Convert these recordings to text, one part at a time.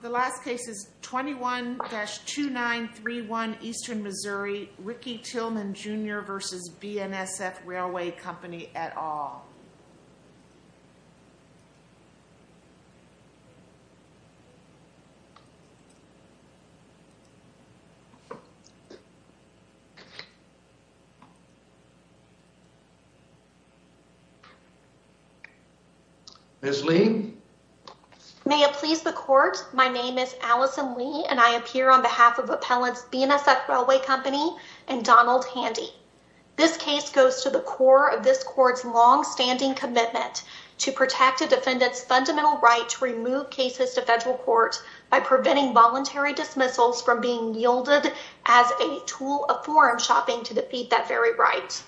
The last case is 21-2931 Eastern Missouri, Ricky Tillman, Jr. v. BNSF Railway Company et al. Ms. Lee? May it please the Court, my name is Allison Lee and I appear on behalf of Appellants BNSF Railway Company and Donald Handy. This case goes to the core of this Court's long-standing commitment to protect a defendant's fundamental right to remove cases to federal court by preventing voluntary dismissals from being yielded as a tool of foreign shopping to defeat that very right.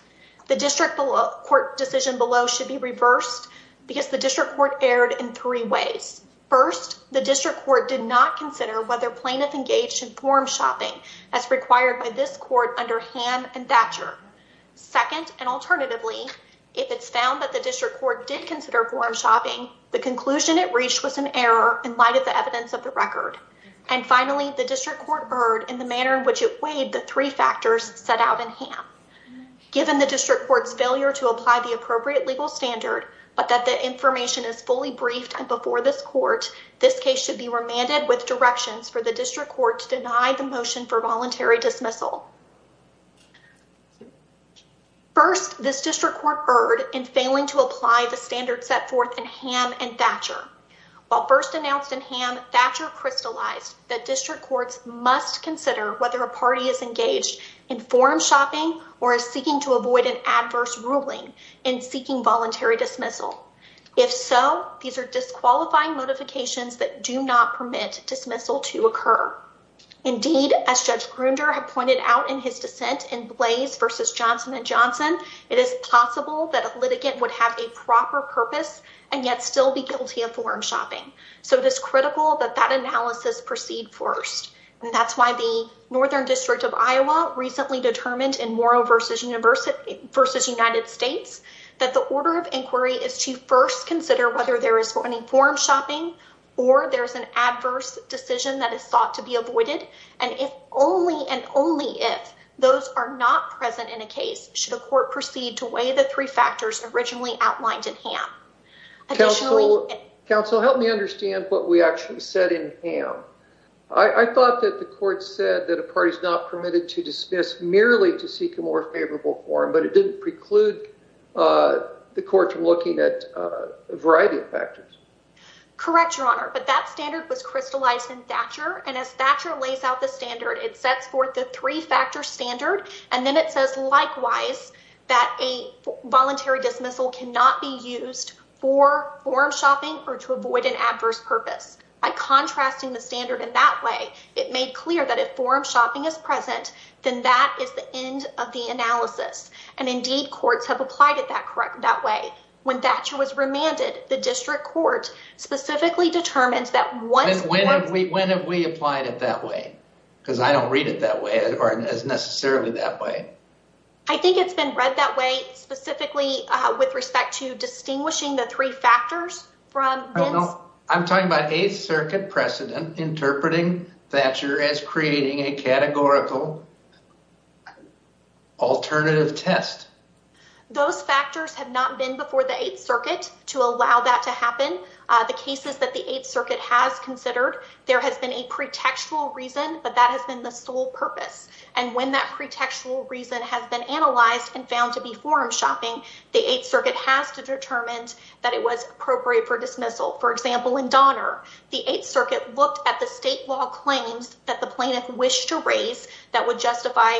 The District Court decision below should be reversed because the District Court erred in three ways. First, the District Court did not consider whether plaintiff engaged in foreign shopping as required by this Court under Ham and Thatcher. Second, and alternatively, if it's found that the District Court did consider foreign shopping, the conclusion it reached was an error in light of the evidence of the record. And finally, the District Court erred in the manner in which it weighed the three factors set out in Ham. Given the District Court's failure to apply the appropriate legal standard, but that the information is fully briefed and before this Court, this case should be remanded with directions for the District Court to deny the motion for voluntary dismissal. First, this District Court erred in failing to apply the standards set forth in Ham and Thatcher. While first announced in Ham, Thatcher crystallized that District Courts must consider whether a party is engaged in foreign shopping or is seeking to avoid an adverse ruling in seeking voluntary dismissal. If so, these are disqualifying modifications that do not permit dismissal to occur. Indeed, as Judge Grunder had pointed out in his dissent in Blaze v. Johnson & Johnson, it is possible that a litigant would have a proper purpose and yet still be guilty of foreign shopping. So it is critical that that analysis proceed first. That's why the Northern District of Iowa recently determined in Morrow v. United States that the order of inquiry is to first consider whether there is any foreign shopping or there is an adverse decision that is thought to be avoided. And only if those are not present in a case should a court proceed to weigh the three factors originally outlined in Ham. Counsel, help me understand what we actually said in Ham. I thought that the court said that a party is not permitted to dismiss merely to seek a more favorable form, but it didn't preclude the court from looking at a variety of factors. Correct, Your Honor, but that standard was crystallized in Thatcher. And as Thatcher lays out the standard, it sets forth the three-factor standard. And then it says, likewise, that a voluntary dismissal cannot be used for foreign shopping or to avoid an adverse purpose. By contrasting the standard in that way, it made clear that if foreign shopping is present, then that is the end of the analysis. And indeed, courts have applied it that way. When Thatcher was remanded, the district court specifically determined that once— When have we applied it that way? Because I don't read it that way or as necessarily that way. I think it's been read that way specifically with respect to distinguishing the three factors from— I don't know. I'm talking about Eighth Circuit precedent interpreting Thatcher as creating a categorical alternative test. Those factors have not been before the Eighth Circuit to allow that to happen. The cases that the Eighth Circuit has considered, there has been a pretextual reason, but that has been the sole purpose. And when that pretextual reason has been analyzed and found to be foreign shopping, the Eighth Circuit has to determine that it was appropriate for dismissal. For example, in Donner, the Eighth Circuit looked at the state law claims that the plaintiff wished to raise that would justify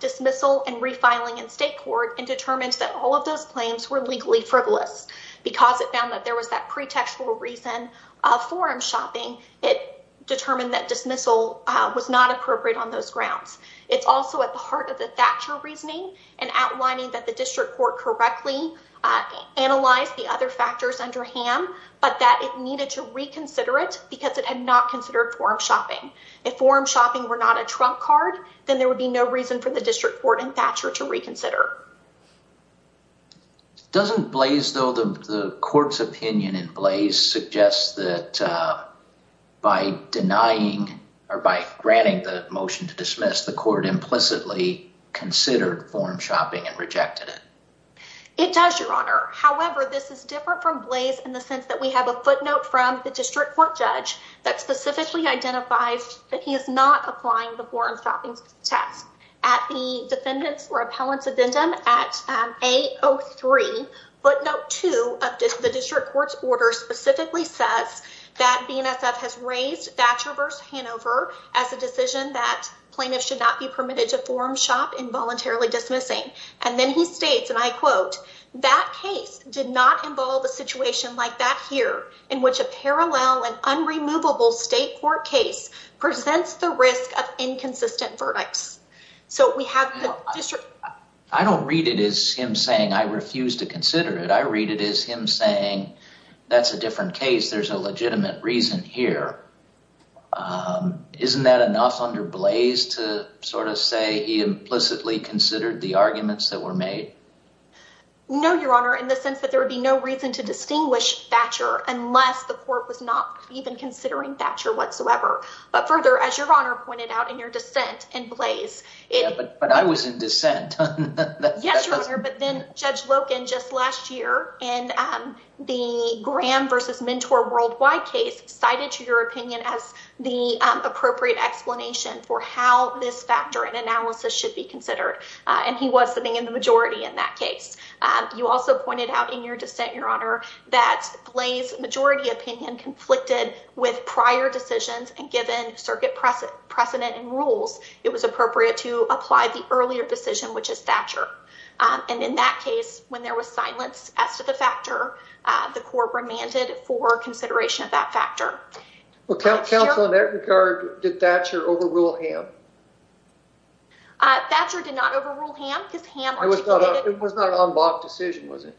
dismissal and refiling in state court and determined that all of those claims were legally frivolous. Because it found that there was that pretextual reason of foreign shopping, it determined that dismissal was not appropriate on those grounds. It's also at the heart of the Thatcher reasoning and outlining that the district court correctly analyzed the other factors under him, but that it needed to reconsider it because it had not considered foreign shopping. If foreign shopping were not a trump card, then there would be no reason for the district court in Thatcher to reconsider. Doesn't Blaze, though, the court's opinion in Blaze suggests that by denying or by granting the motion to dismiss, the court implicitly considered foreign shopping and rejected it? It does, Your Honor. However, this is different from Blaze in the sense that we have a footnote from the district court judge that specifically identifies that he is not applying the foreign shopping test. At the defendant's or appellant's addendum at A03, footnote 2 of the district court's order specifically says that BNSF has raised Thatcher v. Hanover as a decision that plaintiffs should not be permitted to foreign shop involuntarily dismissing. And then he states, and I quote, that case did not involve a situation like that here, in which a parallel and unremovable state court case presents the risk of inconsistent verdicts. I don't read it as him saying I refuse to consider it. I read it as him saying that's a different case. There's a legitimate reason here. Isn't that enough under Blaze to sort of say he implicitly considered the arguments that were made? No, Your Honor, in the sense that there would be no reason to distinguish Thatcher unless the court was not even considering Thatcher whatsoever. But further, as Your Honor pointed out in your dissent in Blaze. But I was in dissent. Yes, Your Honor, but then Judge Loken just last year in the Graham versus Mentor Worldwide case, cited to your opinion as the appropriate explanation for how this factor and analysis should be considered. And he was sitting in the majority in that case. You also pointed out in your dissent, Your Honor, that Blaze's majority opinion conflicted with prior decisions. And given circuit precedent and rules, it was appropriate to apply the earlier decision, which is Thatcher. And in that case, when there was silence as to the factor, the court remanded for consideration of that factor. Thatcher did not overrule Ham. It was not an unblocked decision, was it?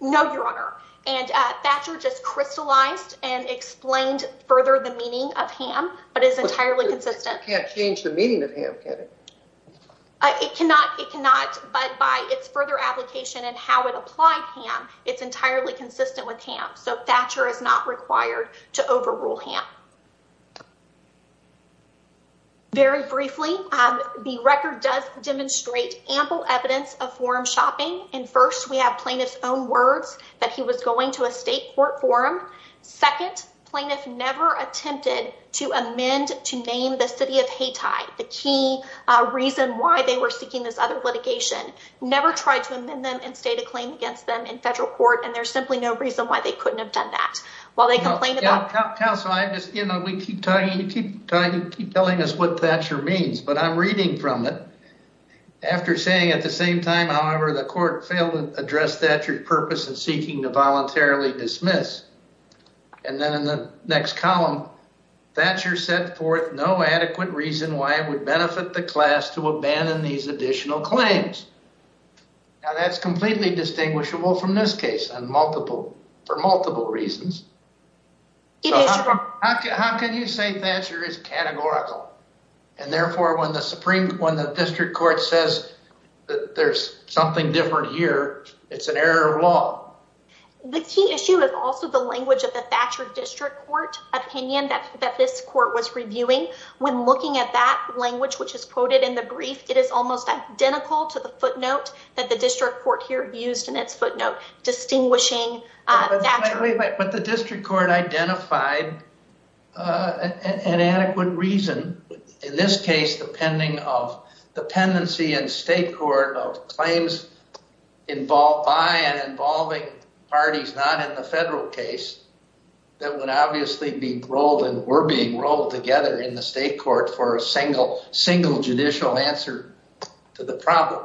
No, Your Honor. And Thatcher just crystallized and explained further the meaning of Ham, but is entirely consistent. It can't change the meaning of Ham, can it? It cannot. It cannot. But by its further application and how it applied Ham, it's entirely consistent with Ham. So Thatcher is not required to overrule Ham. Very briefly, the record does demonstrate ample evidence of forum shopping. And first, we have plaintiff's own words that he was going to a state court for him. Second, plaintiff never attempted to amend to name the city of Hayti, the key reason why they were seeking this other litigation. Never tried to amend them and state a claim against them in federal court. And there's simply no reason why they couldn't have done that. While they complained about — Counsel, I just — you know, we keep talking. You keep telling us what Thatcher means, but I'm reading from it. After saying, at the same time, however, the court failed to address Thatcher's purpose in seeking to voluntarily dismiss. And then in the next column, Thatcher set forth no adequate reason why it would benefit the class to abandon these additional claims. Now, that's completely distinguishable from this case on multiple — for multiple reasons. How can you say Thatcher is categorical? And therefore, when the Supreme — when the district court says that there's something different here, it's an error of law. The key issue is also the language of the Thatcher district court opinion that this court was reviewing. When looking at that language, which is quoted in the brief, it is almost identical to the footnote that the district court here used in its footnote distinguishing Thatcher. But the district court identified an adequate reason, in this case depending of dependency in state court of claims involved by and involving parties not in the federal case, that would obviously be rolled and were being rolled together in the state court for a single judicial answer to the problem.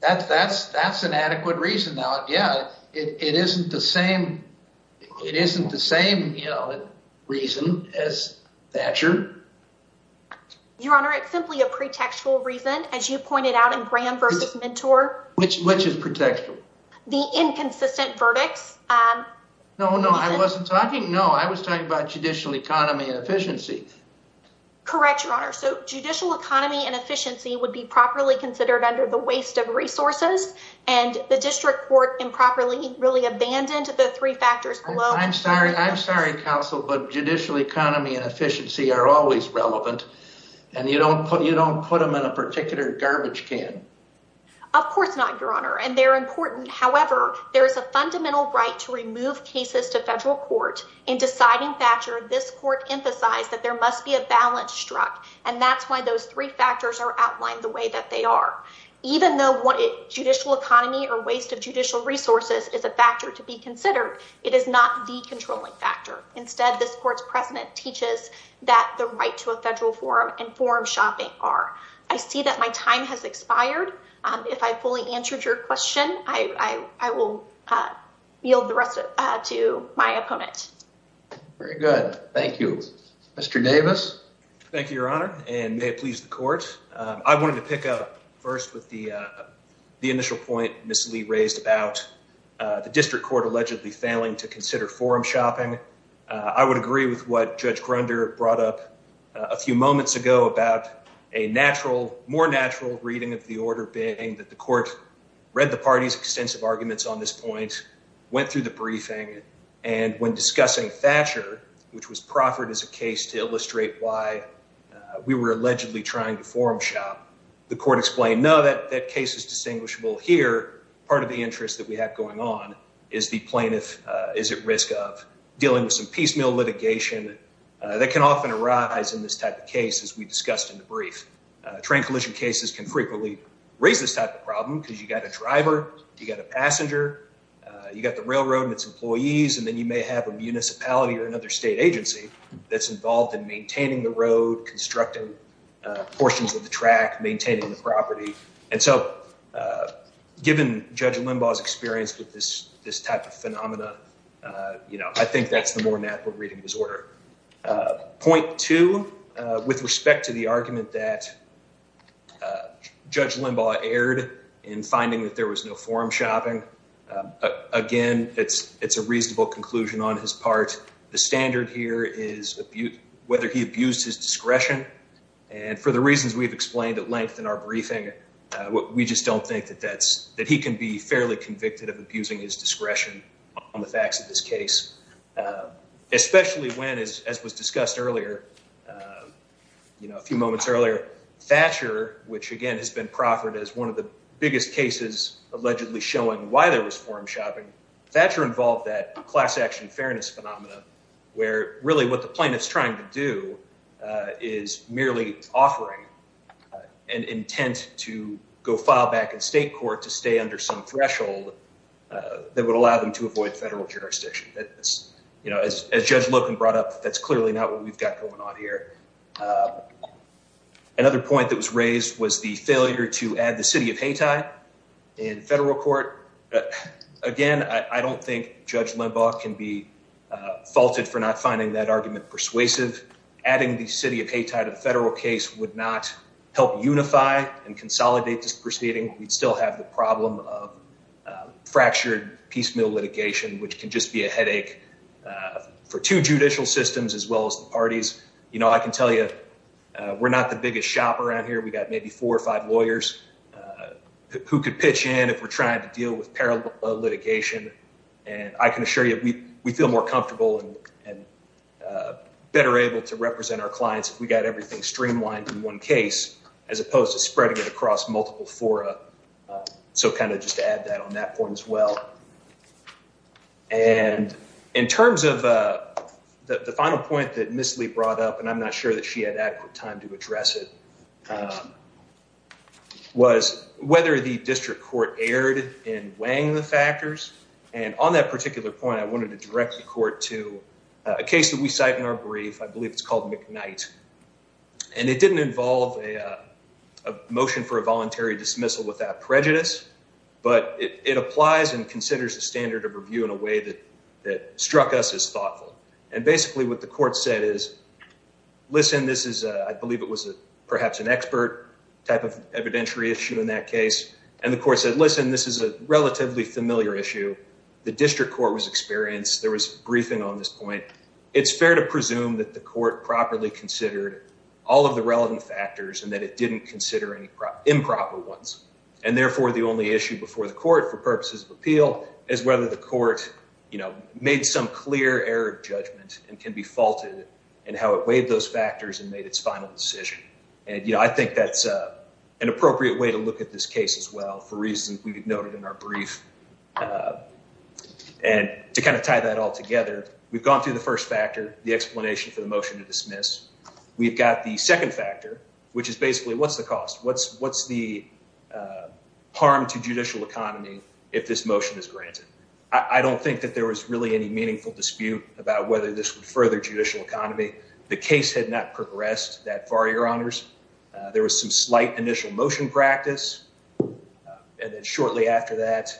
That's an adequate reason. Now, yeah, it isn't the same — it isn't the same reason as Thatcher. Your Honor, it's simply a pretextual reason, as you pointed out in Graham v. Mentor. Which is pretextual? The inconsistent verdicts. No, no, I wasn't talking — no, I was talking about judicial economy and efficiency. Correct, Your Honor. So judicial economy and efficiency would be properly considered under the waste of resources. And the district court improperly really abandoned the three factors below. I'm sorry, counsel, but judicial economy and efficiency are always relevant. And you don't put them in a particular garbage can. Of course not, Your Honor. And they're important. And that's why those three factors are outlined the way that they are. Even though judicial economy or waste of judicial resources is a factor to be considered, it is not the controlling factor. Instead, this court's precedent teaches that the right to a federal forum and forum shopping are. I see that my time has expired. If I fully answered your question, I will yield the rest to my opponent. Very good. Thank you. Mr. Davis? Thank you, Your Honor, and may it please the court. I wanted to pick up first with the initial point Ms. Lee raised about the district court allegedly failing to consider forum shopping. I would agree with what Judge Grunder brought up a few moments ago about a natural, more natural reading of the order, being that the court read the party's extensive arguments on this point, went through the briefing, and when discussing Thatcher, which was proffered as a case to illustrate why we were allegedly trying to forum shop, the court explained, no, that case is distinguishable here. Part of the interest that we have going on is the plaintiff is at risk of dealing with some piecemeal litigation that can often arise in this type of case, as we discussed in the brief. Train collision cases can frequently raise this type of problem because you've got a driver, you've got a passenger, you've got the railroad and its employees, and then you may have a municipality or another state agency that's involved in maintaining the road, constructing portions of the track, maintaining the property. And so given Judge Limbaugh's experience with this type of phenomena, you know, I think that's the more natural reading of his order. Point two, with respect to the argument that Judge Limbaugh erred in finding that there was no forum shopping. Again, it's a reasonable conclusion on his part. The standard here is whether he abused his discretion. And for the reasons we've explained at length in our briefing, we just don't think that he can be fairly convicted of abusing his discretion on the facts of this case, especially when, as was discussed earlier, you know, a few moments earlier, Thatcher, which again has been proffered as one of the biggest cases allegedly showing why there was forum shopping. Thatcher involved that class action fairness phenomena where really what the plaintiff's trying to do is merely offering an intent to go file back in state court to stay under some threshold that would allow them to avoid federal jurisdiction. You know, as Judge Loken brought up, that's clearly not what we've got going on here. Another point that was raised was the failure to add the city of Hayti in federal court. Again, I don't think Judge Limbaugh can be faulted for not finding that argument persuasive. Adding the city of Hayti to the federal case would not help unify and consolidate this proceeding. We'd still have the problem of fractured piecemeal litigation, which can just be a headache for two judicial systems as well as the parties. You know, I can tell you, we're not the biggest shop around here. We got maybe four or five lawyers who could pitch in if we're trying to deal with parallel litigation. And I can assure you, we feel more comfortable and better able to represent our clients if we got everything streamlined in one case as opposed to spreading it across multiple fora. So kind of just add that on that point as well. And in terms of the final point that Miss Lee brought up, and I'm not sure that she had adequate time to address it, was whether the district court erred in weighing the factors. And on that particular point, I wanted to direct the court to a case that we cite in our brief. I believe it's called McKnight. And it didn't involve a motion for a voluntary dismissal without prejudice. But it applies and considers the standard of review in a way that that struck us as thoughtful. And basically what the court said is, listen, this is I believe it was perhaps an expert type of evidentiary issue in that case. And the court said, listen, this is a relatively familiar issue. The district court was experienced. There was briefing on this point. It's fair to presume that the court properly considered all of the relevant factors and that it didn't consider any improper ones. And therefore, the only issue before the court for purposes of appeal is whether the court made some clear error of judgment and can be faulted and how it weighed those factors and made its final decision. And, you know, I think that's an appropriate way to look at this case as well for reasons we've noted in our brief. And to kind of tie that all together, we've gone through the first factor, the explanation for the motion to dismiss. We've got the second factor, which is basically what's the cost? What's what's the harm to judicial economy if this motion is granted? I don't think that there was really any meaningful dispute about whether this would further judicial economy. The case had not progressed that far, your honors. There was some slight initial motion practice. And then shortly after that,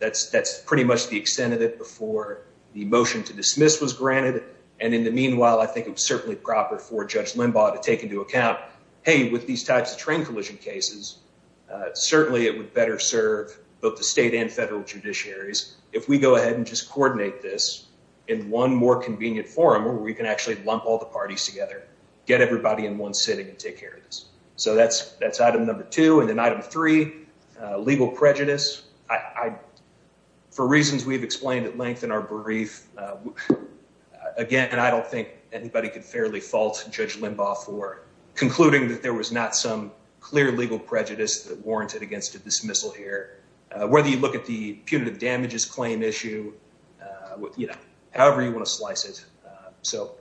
that's that's pretty much the extent of it before the motion to dismiss was granted. And in the meanwhile, I think it was certainly proper for Judge Limbaugh to take into account, hey, with these types of train collision cases, certainly it would better serve both the state and federal judiciaries. If we go ahead and just coordinate this in one more convenient forum where we can actually lump all the parties together, get everybody in one sitting and take care of this. So that's that's item number two. And then item three, legal prejudice. I for reasons we've explained at length in our brief again, and I don't think anybody could fairly fault Judge Limbaugh for concluding that there was not some clear legal prejudice that warranted against a dismissal here. Whether you look at the punitive damages claim issue, you know, however you want to slice it. So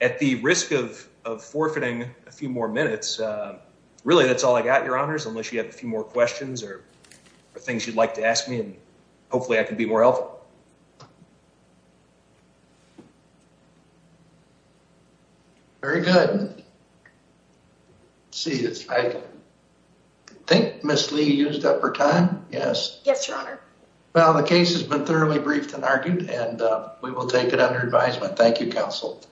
at the risk of of forfeiting a few more minutes, really, that's all I got, your honors, unless you have a few more questions or things you'd like to ask me. Hopefully I can be more helpful. Very good. I think Ms. Lee used up her time. Yes. Yes, your honor. Well, the case has been thoroughly briefed and argued and we will take it under advisement. Thank you, counsel.